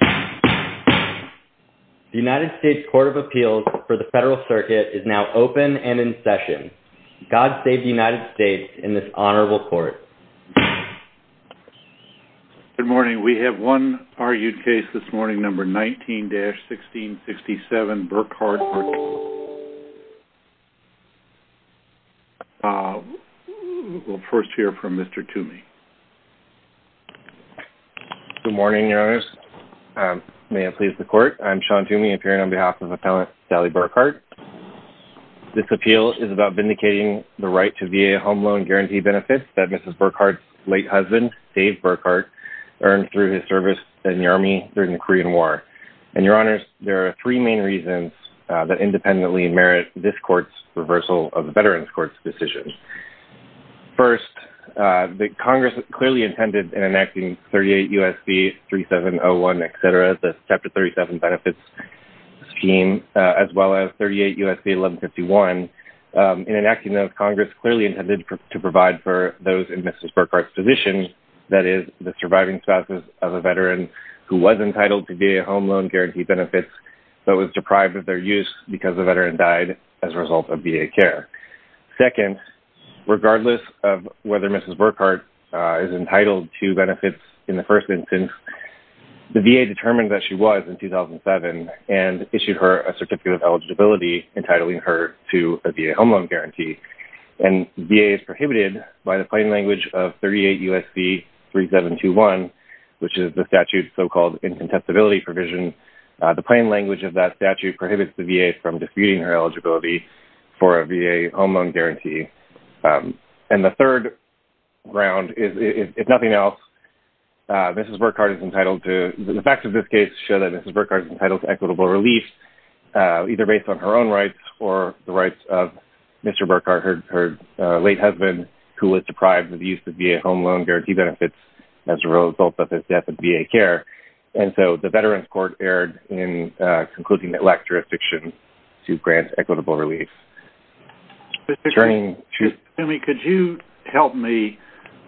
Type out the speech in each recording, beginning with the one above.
The United States Court of Appeals for the Federal Circuit is now open and in session. God save the United States in this honorable court. Good morning. We have one argued case this morning, number 19-1667, Burkhart v. Wilkie. We'll first hear from Mr. Toomey. Good morning, Your Honors. May it please the court, I'm Sean Toomey, appearing on behalf of Appellant Sally Burkhart. This appeal is about vindicating the right to VA home loan guarantee benefits that Mrs. Burkhart's late husband, Dave Burkhart, earned through his service in the Army during the Korean War. And, Your Honors, there are three main reasons that independently merit this court's reversal of the Veterans Court's decision. First, Congress clearly intended in enacting 38 U.S.C. 3701, etc., the Chapter 37 benefits scheme, as well as 38 U.S.C. 1151, in enacting those, Congress clearly intended to provide for those in Mrs. Burkhart's position, that is, the surviving spouses of a Veteran who was entitled to VA home loan guarantee benefits, but was deprived of their use because the Veteran died as a result of VA care. Second, regardless of whether Mrs. Burkhart is entitled to benefits in the first instance, the VA determined that she was in 2007 and issued her a Certificate of Eligibility entitling her to a VA home loan guarantee. And VA is prohibited by the plain language of 38 U.S.C. 3721, which is the statute's so-called incontestability provision. The plain language of that statute prohibits the VA from disputing her eligibility for a VA home loan guarantee. And the third ground is, if nothing else, Mrs. Burkhart is entitled to – the facts of this case show that Mrs. Burkhart is entitled to equitable relief, either based on her own rights or the rights of Mr. Burkhart, her late husband, who was deprived of the use of VA home loan guarantee benefits as a result of his death of VA care. And so the Veterans Court erred in concluding that LAC jurisdiction should grant equitable relief. Turning to – Jimmy, could you help me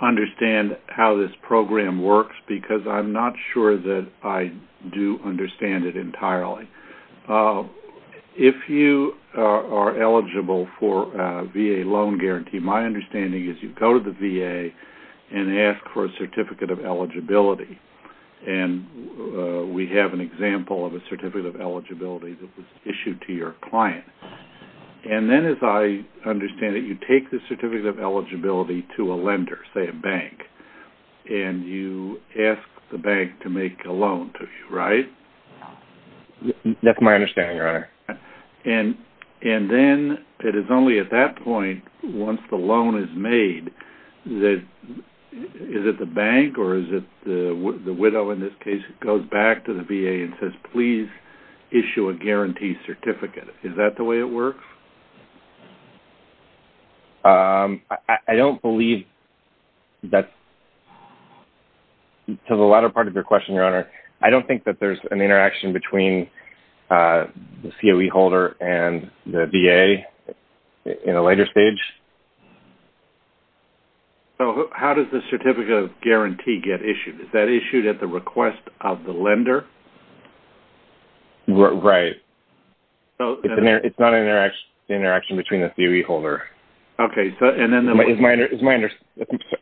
understand how this program works? Because I'm not sure that I do understand it entirely. If you are eligible for a VA loan guarantee, my understanding is you go to the VA and ask for a Certificate of Eligibility. And we have an example of a Certificate of Eligibility that was issued to your client. And then, as I understand it, you take the Certificate of Eligibility to a lender, say a bank, and you ask the bank to make a loan to you, right? And then it is only at that point, once the loan is made, that – is it the bank or is it the widow in this case, who goes back to the VA and says, please issue a guarantee certificate? Is that the way it works? I don't believe that's – to the latter part of your question, Your Honor, I don't think that there's an interaction between the COE holder and the VA in a later stage. So how does the Certificate of Guarantee get issued? Is that issued at the request of the lender? Right. It's not an interaction between the COE holder. Okay, so – and then the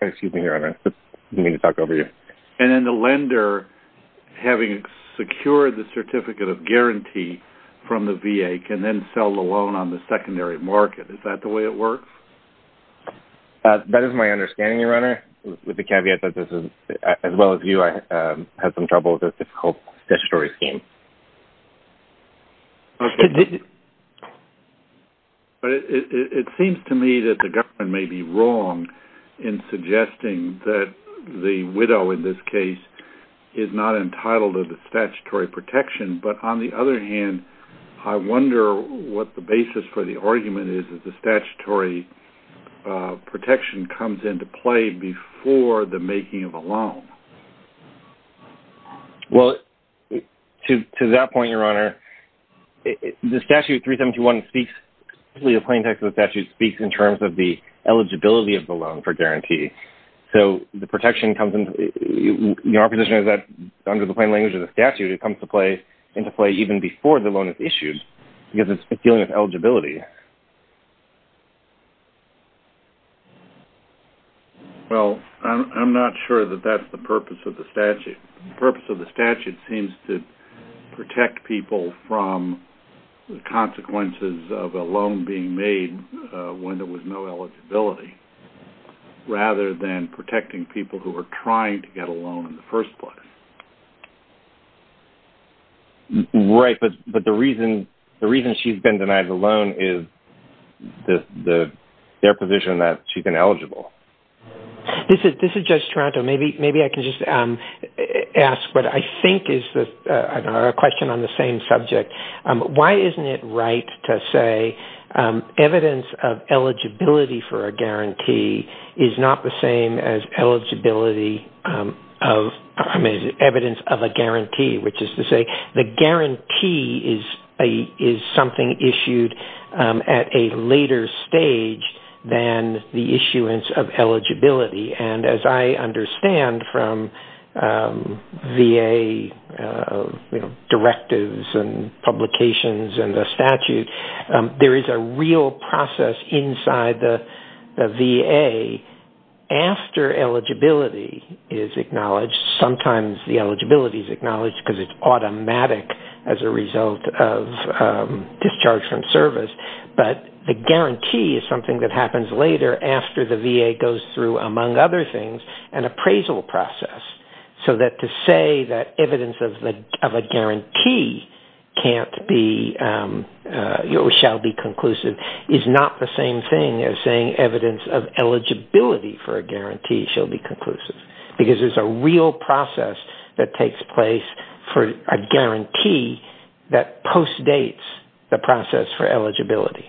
– Excuse me, Your Honor. I didn't mean to talk over you. And then the lender, having secured the Certificate of Guarantee from the VA, can then sell the loan on the secondary market. Is that the way it works? That is my understanding, Your Honor, with the caveat that this is – as well as you, I have some trouble with this difficult statutory scheme. Okay. It seems to me that the government may be wrong in suggesting that the widow in this case is not entitled to the statutory protection. But on the other hand, I wonder what the basis for the argument is that the statutory protection comes into play before the making of a loan. Well, to that point, Your Honor, the Statute 371 speaks – the plain text of the statute speaks in terms of the eligibility of the loan for guarantee. So the protection comes – our position is that under the plain language of the statute, it comes into play even before the loan is issued because it's dealing with eligibility. Well, I'm not sure that that's the purpose of the statute. The purpose of the statute seems to protect people from the consequences of a loan being made when there was no eligibility, rather than protecting people who are trying to get a loan in the first place. Right, but the reason she's been denied the loan is their position that she's been eligible. This is Judge Taranto. Maybe I can just ask what I think is a question on the same subject. Why isn't it right to say evidence of eligibility for a guarantee is not the same as evidence of a guarantee, which is to say the guarantee is something issued at a later stage than the issuance of eligibility? And as I understand from VA directives and publications and the statute, there is a real process inside the VA after eligibility is acknowledged. Sometimes the eligibility is acknowledged because it's automatic as a result of discharge from service. But the guarantee is something that happens later after the VA goes through, among other things, an appraisal process. So to say that evidence of a guarantee can't be or shall be conclusive is not the same thing as saying evidence of eligibility for a guarantee shall be conclusive. Because there's a real process that takes place for a guarantee that postdates the process for eligibility.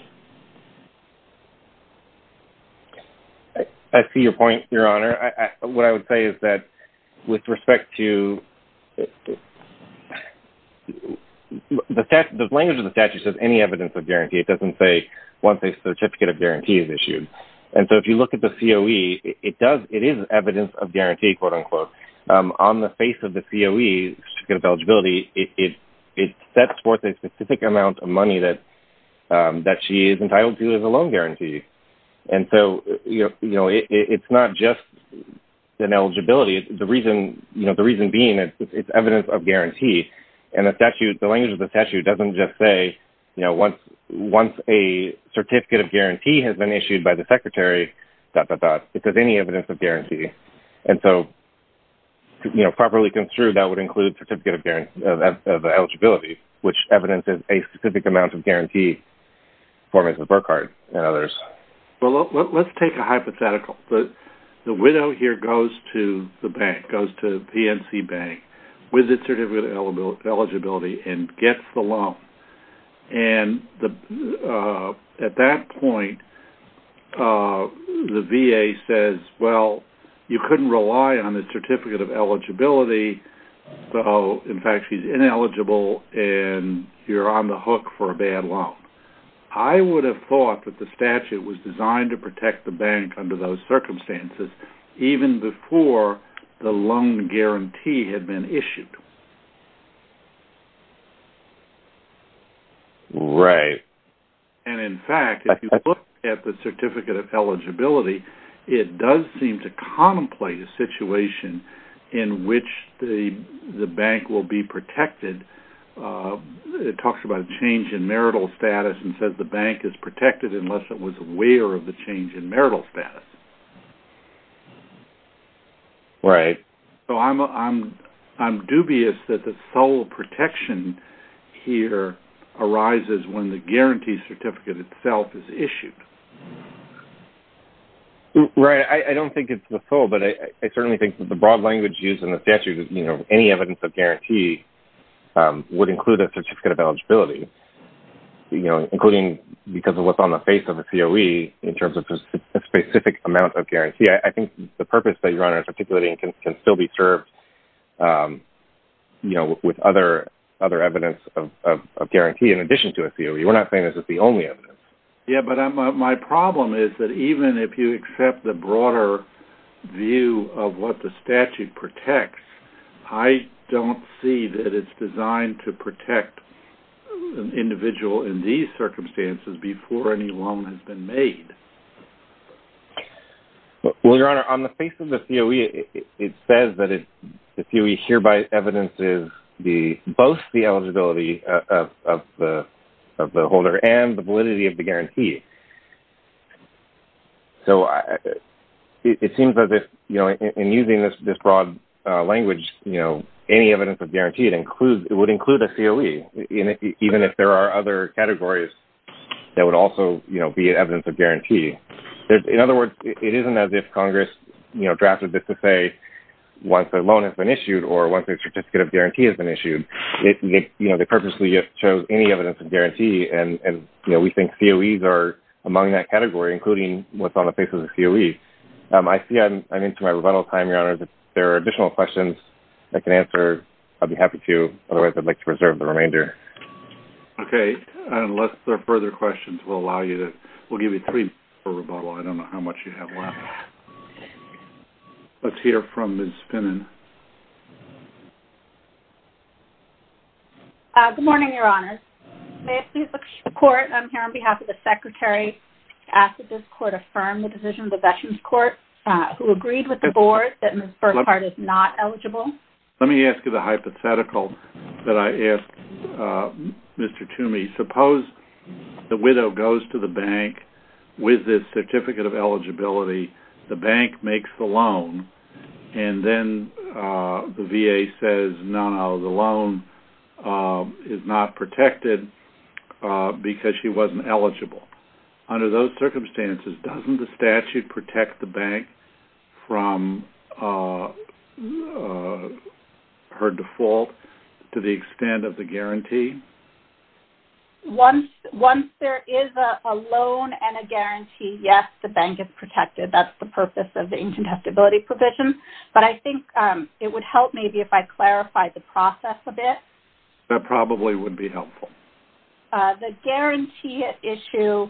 I see your point, Your Honor. What I would say is that with respect to – the language of the statute says any evidence of guarantee. It doesn't say once a certificate of guarantee is issued. And so if you look at the COE, it is evidence of guarantee, quote-unquote. On the face of the COE, certificate of eligibility, it sets forth a specific amount of money that she is entitled to as a loan guarantee. And so it's not just an eligibility. The reason being it's evidence of guarantee. And the language of the statute doesn't just say once a certificate of guarantee has been issued by the secretary, dot, dot, dot. It says any evidence of guarantee. And so properly construed, that would include certificate of eligibility, which evidences a specific amount of guarantee for Ms. Burkhardt and others. Well, let's take a hypothetical. The widow here goes to the bank, goes to PNC Bank, with a certificate of eligibility, and gets the loan. And at that point, the VA says, well, you couldn't rely on the certificate of eligibility. In fact, she's ineligible, and you're on the hook for a bad loan. I would have thought that the statute was designed to protect the bank under those circumstances, even before the loan guarantee had been issued. Right. And in fact, if you look at the certificate of eligibility, it does seem to contemplate a situation in which the bank will be protected. It talks about a change in marital status and says the bank is protected unless it was aware of the change in marital status. Right. So I'm dubious that the sole protection here arises when the guarantee certificate itself is issued. Right. I don't think it's the sole, but I certainly think that the broad language used in the statute is any evidence of guarantee would include a certificate of eligibility, including because of what's on the face of a COE in terms of a specific amount of guarantee. I think the purpose that you're articulating can still be served with other evidence of guarantee in addition to a COE. We're not saying this is the only evidence. Yeah, but my problem is that even if you accept the broader view of what the statute protects, I don't see that it's designed to protect an individual in these circumstances before any loan has been made. Well, Your Honor, on the face of the COE, it says that the COE hereby evidences both the eligibility of the holder and the validity of the guarantee. So it seems that in using this broad language, any evidence of guarantee would include a COE, even if there are other categories that would also be evidence of guarantee. In other words, it isn't as if Congress drafted this to say once a loan has been issued or once a certificate of guarantee has been issued. They purposely just chose any evidence of guarantee, and we think COEs are among that category, including what's on the face of the COE. I see I'm into my rebuttal time, Your Honor. If there are additional questions I can answer, I'd be happy to. Otherwise, I'd like to preserve the remainder. Okay. Unless there are further questions, we'll give you three minutes for rebuttal. I don't know how much you have left. Let's hear from Ms. Finnan. Good morning, Your Honor. May I please look to the Court? I'm here on behalf of the Secretary. I ask that this Court affirm the decision of the Veterans Court who agreed with the Board that Ms. Burkhardt is not eligible. Let me ask you the hypothetical that I asked Mr. Toomey. Suppose the widow goes to the bank with this certificate of eligibility. The bank makes the loan, and then the VA says, no, the loan is not protected because she wasn't eligible. Under those circumstances, doesn't the statute protect the bank from her default to the extent of the guarantee? Once there is a loan and a guarantee, yes, the bank is protected. That's the purpose of the ancient testability provision. But I think it would help maybe if I clarified the process a bit. That probably would be helpful. The guarantee issue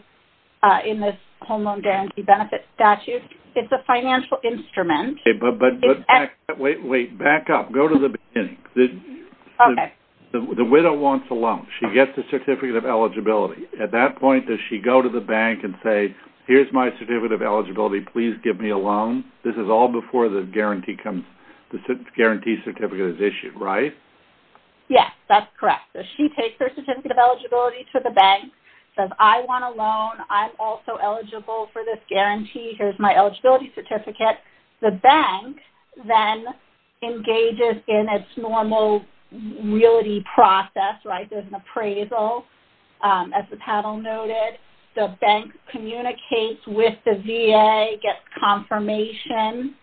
in this Home Loan Guarantee Benefit Statute, it's a financial instrument. But back up. Go to the beginning. Okay. The widow wants a loan. She gets the certificate of eligibility. At that point, does she go to the bank and say, here's my certificate of eligibility. Please give me a loan. This is all before the guarantee certificate is issued, right? Yes, that's correct. So she takes her certificate of eligibility to the bank, says, I want a loan. I'm also eligible for this guarantee. Here's my eligibility certificate. The bank then engages in its normal realty process, right? There's an appraisal, as the panel noted. The bank communicates with the VA, gets confirmation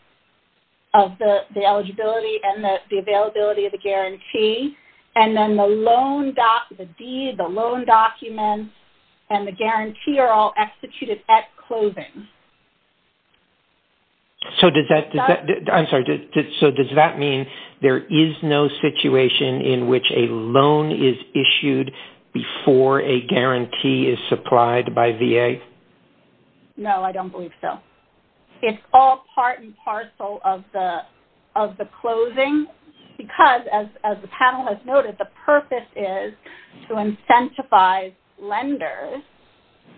of the eligibility and the availability of the guarantee. And then the loan documents and the guarantee are all executed at closing. So does that mean there is no situation in which a loan is issued before a guarantee is supplied by VA? No, I don't believe so. It's all part and parcel of the closing. Because, as the panel has noted, the purpose is to incentivize lenders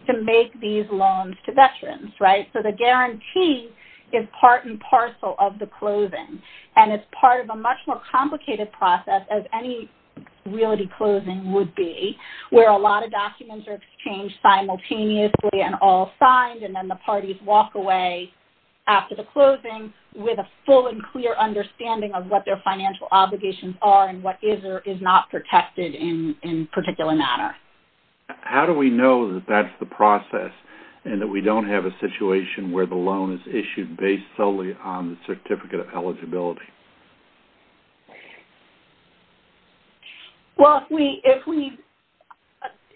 to make these loans to veterans, right? So the guarantee is part and parcel of the closing. And it's part of a much more complicated process, as any realty closing would be, where a lot of documents are exchanged simultaneously and all signed, and then the parties walk away after the closing with a full and clear understanding of what their financial obligations are and what is or is not protected in a particular manner. How do we know that that's the process and that we don't have a situation where the loan is issued based solely on the certificate of eligibility? Well,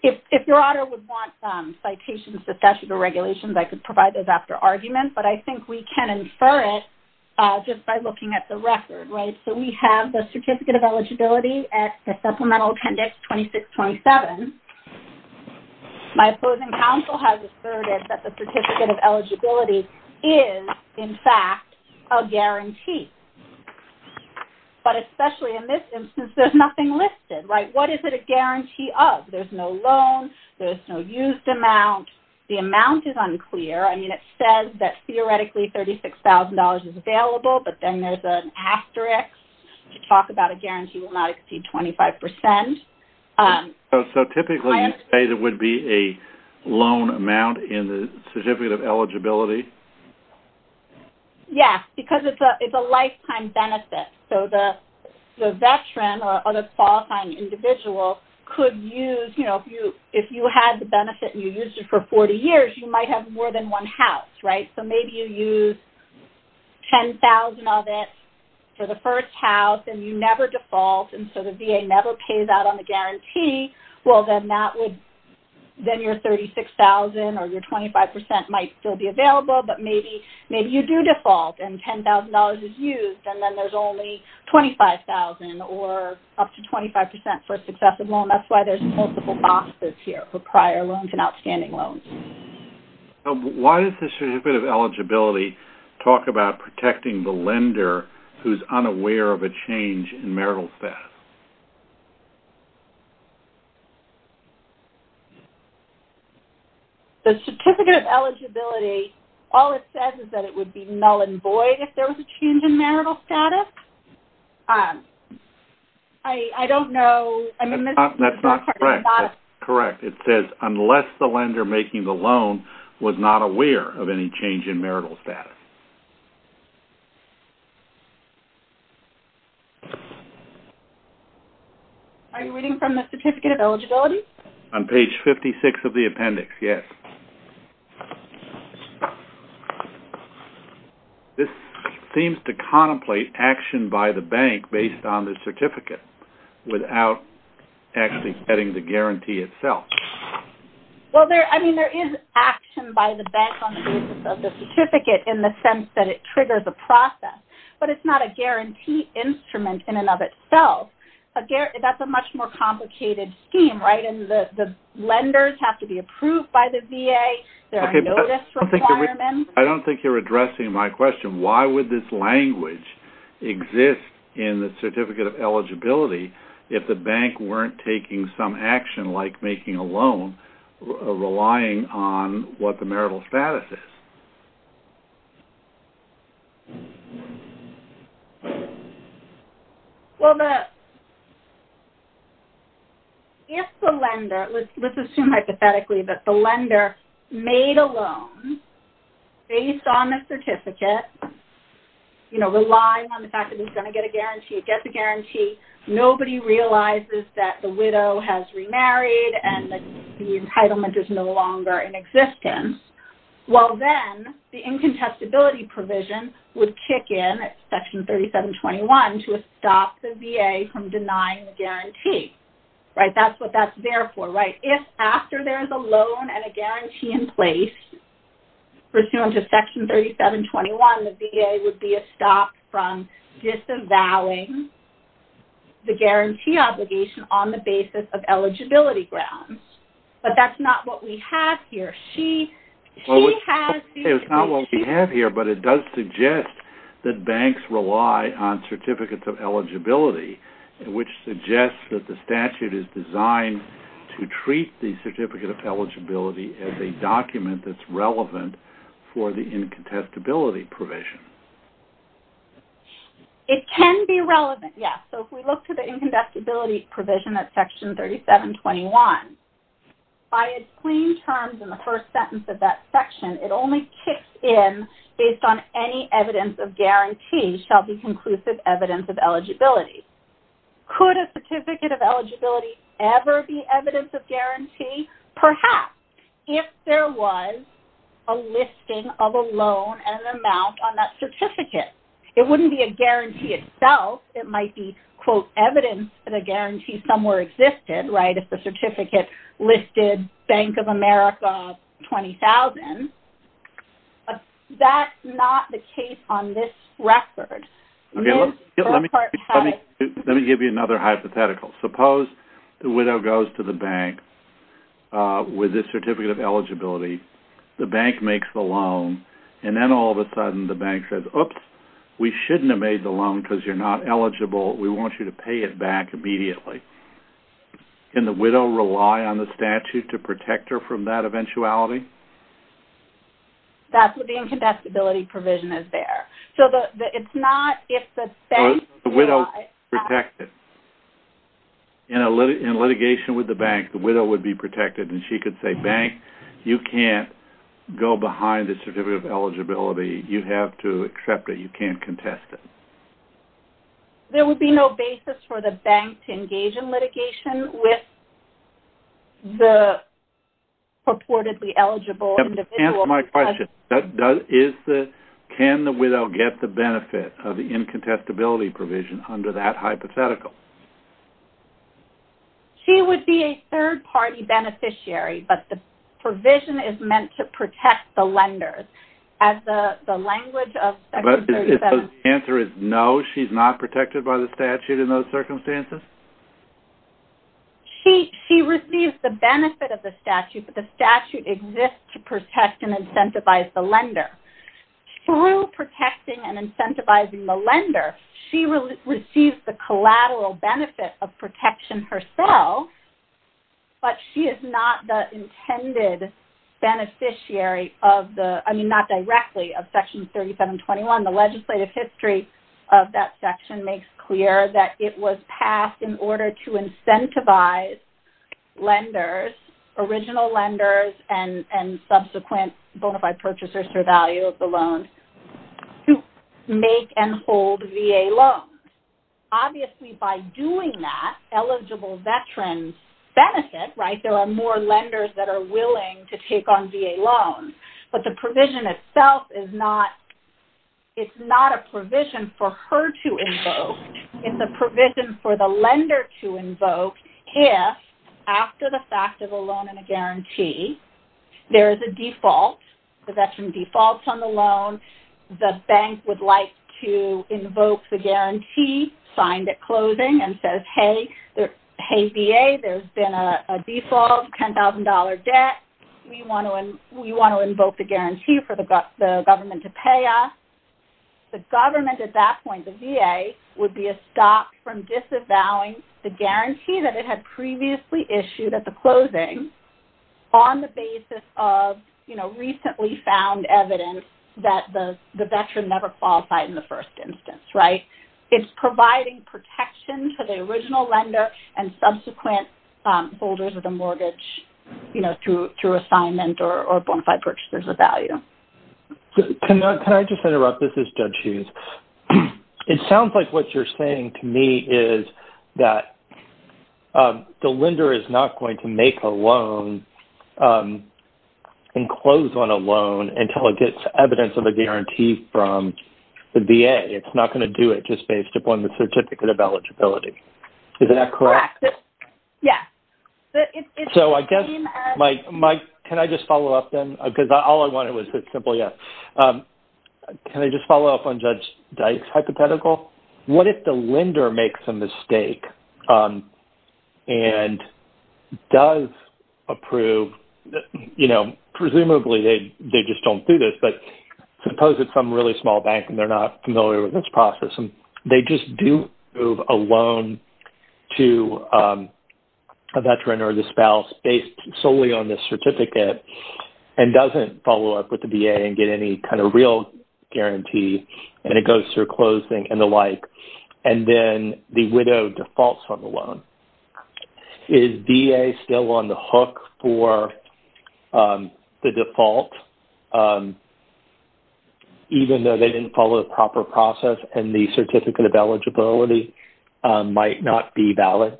if your auditor would want citations, discussions, or regulations, I could provide those after arguments, but I think we can infer it just by looking at the record, right? So we have the certificate of eligibility at the Supplemental Appendix 2627. My opposing counsel has asserted that the certificate of eligibility is, in fact, a guarantee. But especially in this instance, there's nothing listed, right? What is it a guarantee of? There's no loan. There's no used amount. The amount is unclear. I mean, it says that theoretically $36,000 is available, but then there's an asterisk to talk about a guarantee will not exceed 25%. Yes, because it's a lifetime benefit. So the veteran or the qualifying individual could use, you know, if you had the benefit and you used it for 40 years, you might have more than one house, right? So maybe you used $10,000 of it for the first house, and you never default, and so the VA never pays out on the guarantee. Well, then your $36,000 or your 25% might still be available, but maybe you do default and $10,000 is used, and then there's only $25,000 or up to 25% for a successive loan. That's why there's multiple boxes here for prior loans and outstanding loans. Why does the certificate of eligibility talk about protecting the lender who's unaware of a change in marital status? The certificate of eligibility, all it says is that it would be null and void if there was a change in marital status. I don't know. That's not correct. It says unless the lender making the loan was not aware of any change in marital status. Are you reading from the certificate of eligibility? On page 56 of the appendix, yes. This seems to contemplate action by the bank based on the certificate without actually getting the guarantee itself. Well, I mean, there is action by the bank on the basis of the certificate in the sense that it triggers a process, but it's not a guarantee instrument in and of itself. That's a much more complicated scheme, right? The lenders have to be approved by the VA. There are notice requirements. I don't think you're addressing my question. Why would this language exist in the certificate of eligibility if the bank weren't taking some action, like making a loan, relying on what the marital status is? Well, if the lender, let's assume hypothetically that the lender made a loan based on the certificate, you know, relying on the fact that he's going to get a guarantee, gets a guarantee, nobody realizes that the widow has remarried and the entitlement is no longer in existence, well, then the incontestability provision would kick in at Section 3721 to stop the VA from denying the guarantee, right? That's what that's there for, right? If after there is a loan and a guarantee in place, pursuant to Section 3721, the VA would be stopped from disavowing the guarantee obligation on the basis of eligibility grounds. But that's not what we have here. It's not what we have here, but it does suggest that banks rely on certificates of eligibility, which suggests that the statute is designed to treat the certificate of eligibility as a document that's relevant for the incontestability provision. It can be relevant, yes. So if we look to the incontestability provision at Section 3721, by its clean terms in the first sentence of that section, it only kicks in based on any evidence of guarantee shall be conclusive evidence of eligibility. Could a certificate of eligibility ever be evidence of guarantee? Perhaps, if there was a listing of a loan and an amount on that certificate. It wouldn't be a guarantee itself. It might be, quote, evidence that a guarantee somewhere existed, right, if the certificate listed Bank of America 20,000. But that's not the case on this record. Let me give you another hypothetical. Suppose the widow goes to the bank with a certificate of eligibility. The bank makes the loan, and then all of a sudden the bank says, oops, we shouldn't have made the loan because you're not eligible. We want you to pay it back immediately. Can the widow rely on the statute to protect her from that eventuality? That's what the incontestability provision is there. So it's not if the bank... The widow protects it. In litigation with the bank, the widow would be protected, and she could say, bank, you can't go behind the certificate of eligibility. You have to accept it. You can't contest it. There would be no basis for the bank to engage in litigation with the purportedly eligible individual. Answer my question. Can the widow get the benefit of the incontestability provision under that hypothetical? She would be a third-party beneficiary, but the provision is meant to protect the lenders. As the language of Section 37... The answer is no, she's not protected by the statute in those circumstances? She receives the benefit of the statute, but the statute exists to protect and incentivize the lender. Through protecting and incentivizing the lender, she receives the collateral benefit of protection herself, but she is not the intended beneficiary of the... The legislative history of that section makes clear that it was passed in order to incentivize lenders, original lenders and subsequent bona fide purchasers for value of the loans, to make and hold VA loans. Obviously, by doing that, eligible veterans benefit. There are more lenders that are willing to take on VA loans, but the provision itself is not... It's not a provision for her to invoke. It's a provision for the lender to invoke if, after the fact of a loan and a guarantee, there is a default, the veteran defaults on the loan, the bank would like to invoke the guarantee, signed at closing, and says, hey, VA, there's been a default $10,000 debt. We want to invoke the guarantee for the government to pay us. The government, at that point, the VA, would be a stop from disavowing the guarantee that it had previously issued at the closing on the basis of recently found evidence that the veteran never qualified in the first instance. It's providing protection to the original lender and subsequent holders of the mortgage through assignment or bonafide purchases of value. Can I just interrupt? This is Judge Hughes. It sounds like what you're saying to me is that the lender is not going to make a loan and close on a loan until it gets evidence of a guarantee from the VA. It's not going to do it just based upon the certificate of eligibility. Is that correct? Correct. Yes. So I guess, Mike, can I just follow up then? Because all I wanted was a simple yes. Can I just follow up on Judge Dyke's hypothetical? What if the lender makes a mistake and does approve, you know, presumably they just don't do this, but suppose it's some really small bank and they're not familiar with this process and they just do approve a loan to a veteran or the spouse based solely on this certificate and doesn't follow up with the VA and get any kind of real guarantee and it goes through closing and the like and then the widow defaults on the loan. Is VA still on the hook for the default even though they didn't follow the proper process and the certificate of eligibility might not be valid?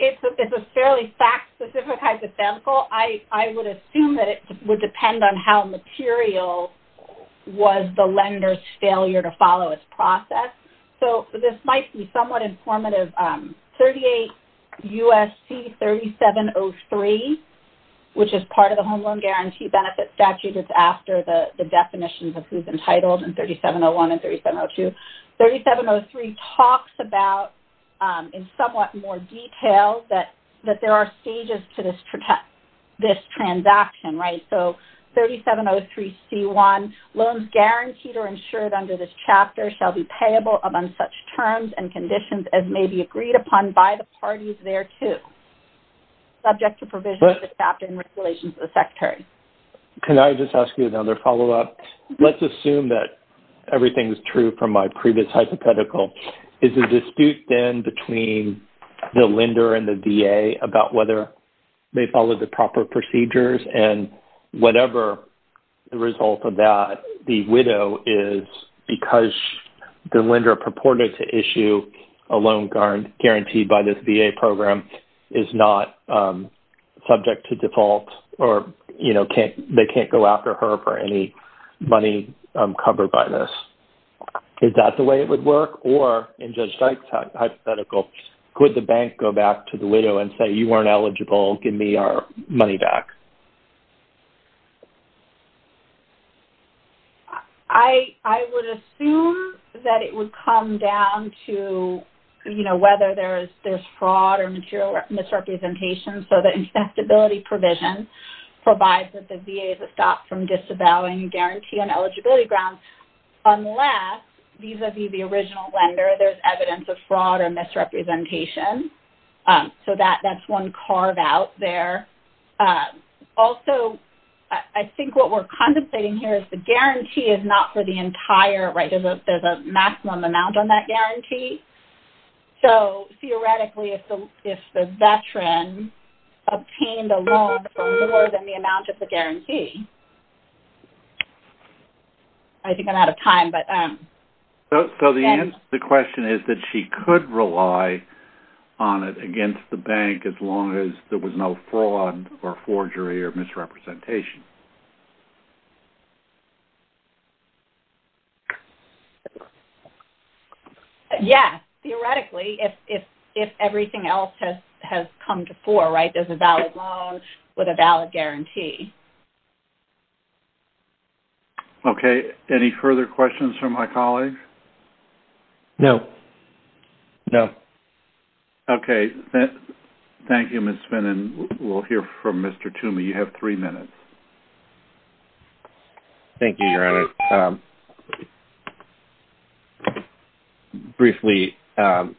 It's a fairly fact-specific hypothetical. I would assume that it would depend on how material was the lender's failure to follow its process. So this might be somewhat informative. 38 U.S.C. 3703, which is part of the Home Loan Guarantee Benefit Statute, just after the definitions of who's entitled in 3701 and 3702. 3703 talks about, in somewhat more detail, that there are stages to this transaction, right? So 3703C1, loans guaranteed or insured under this chapter shall be payable among such terms and conditions as may be agreed upon by the parties thereto, subject to provision of the chapter and regulations of the Secretary. Can I just ask you another follow-up? Let's assume that everything is true from my previous hypothetical. Is the dispute then between the lender and the VA about whether they followed the proper procedures and whatever the result of that, the widow is because the lender purported to issue a loan guaranteed by this VA program is not subject to default or they can't go after her for any money covered by this? Is that the way it would work? Or, in Judge Dykes' hypothetical, could the bank go back to the widow and say, you weren't eligible, give me our money back? I would assume that it would come down to whether there's fraud or misrepresentation. So the infestability provision provides that the VA is stopped from disavowing a guarantee on eligibility grounds unless, vis-a-vis the original lender, there's evidence of fraud or misrepresentation. So that's one carve-out there. Also, I think what we're contemplating here is the guarantee is not for the entire, right? So, theoretically, if the veteran obtained a loan for more than the amount of the guarantee... I think I'm out of time, but... So the question is that she could rely on it against the bank as long as there was no fraud or forgery or misrepresentation. Yes, theoretically, if everything else has come to fore, right? There's a valid loan with a valid guarantee. Okay. Any further questions from my colleagues? No. No. Okay. Thank you, Ms. Finn. And we'll hear from Mr. Toomey. You have three minutes. Thank you, Your Honor. Briefly, I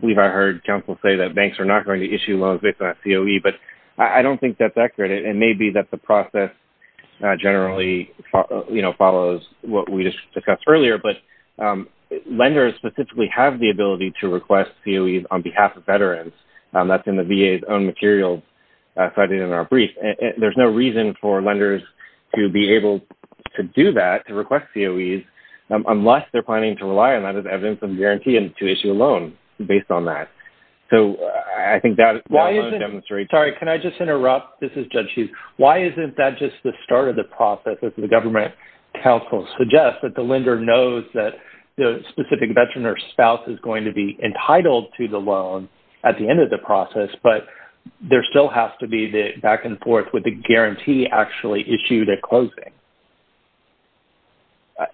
believe I heard counsel say that banks are not going to issue loans based on that COE, but I don't think that's accurate. It may be that the process generally, you know, follows what we just discussed earlier, but lenders specifically have the ability to request COEs on behalf of veterans. That's in the VA's own materials cited in our brief. There's no reason for lenders to be able to do that, to request COEs, unless they're planning to rely on that as evidence of guarantee and to issue a loan based on that. So I think that loan demonstrates... Sorry, can I just interrupt? This is Judge Hughes. Why isn't that just the start of the process if the government counsel suggests that the lender knows that the specific veteran or spouse is going to be entitled to the loan at the end of the process, but there still has to be the back and forth with the guarantee actually issued at closing?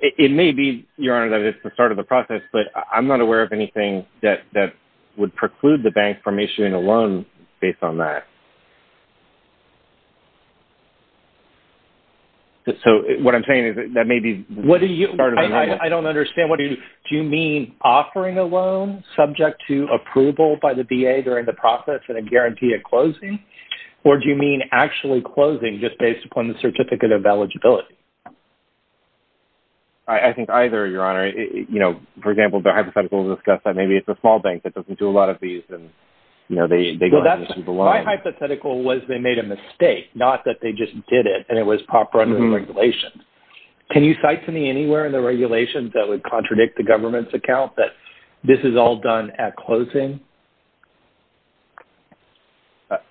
It may be, Your Honor, that it's the start of the process, but I'm not aware of anything that would preclude the bank from issuing a loan based on that. So what I'm saying is that may be the start of the process. I don't understand. Do you mean offering a loan subject to approval by the VA during the process and a guarantee at closing, or do you mean actually closing just based upon the certificate of eligibility? I think either, Your Honor. You know, for example, the hypotheticals discuss that maybe it's a small bank that doesn't do a lot of these and, you know, they go ahead and issue the loan. My hypothetical was they made a mistake, not that they just did it, and it was proper under the regulations. Can you cite to me anywhere in the regulations that would contradict the government's account that this is all done at closing?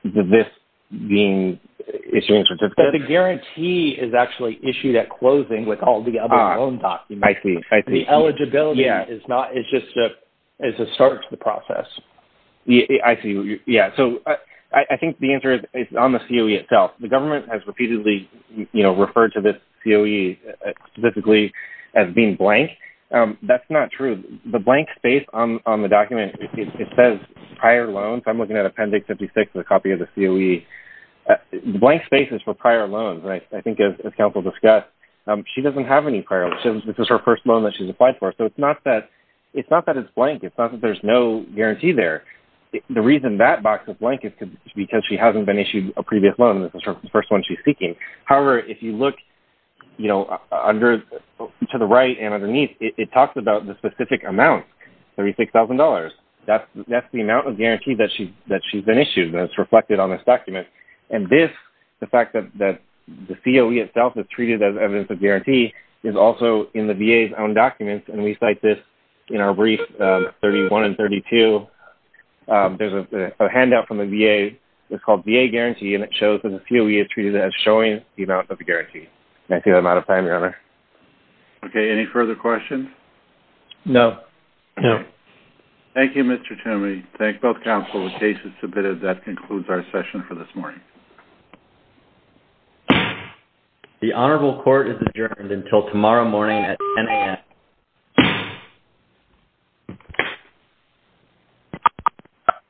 This being issuing certificates? But the guarantee is actually issued at closing with all the other loan documents. I see. I see. The eligibility is not... It's just a start to the process. I see. Yeah. So I think the answer is on the COE itself. The government has repeatedly, you know, referred to this COE specifically as being blank. That's not true. The blank space on the document, it says prior loans. I'm looking at Appendix 56 with a copy of the COE. Blank spaces for prior loans. I think as counsel discussed, she doesn't have any prior loans. This is her first loan that she's applied for. So it's not that it's blank. It's not that there's no guarantee there. The reason that box is blank is because she hasn't been issued a previous loan. This is the first one she's seeking. However, if you look, you know, to the right and underneath, it talks about the specific amount, $36,000. That's the amount of guarantee that she's been issued that's reflected on this document. And this, the fact that the COE itself is treated as evidence of guarantee, is also in the VA's own documents. And we cite this in our brief 31 and 32. There's a handout from the VA. It's called VA Guarantee, and it shows that the COE is treated as showing the amount of the guarantee. I see I'm out of time, Your Honor. Okay. Any further questions? No. No. Thank you, Mr. Toomey. Thank both counsel. The case is submitted. That concludes our session for this morning. The Honorable Court is adjourned until tomorrow morning at 10 a.m.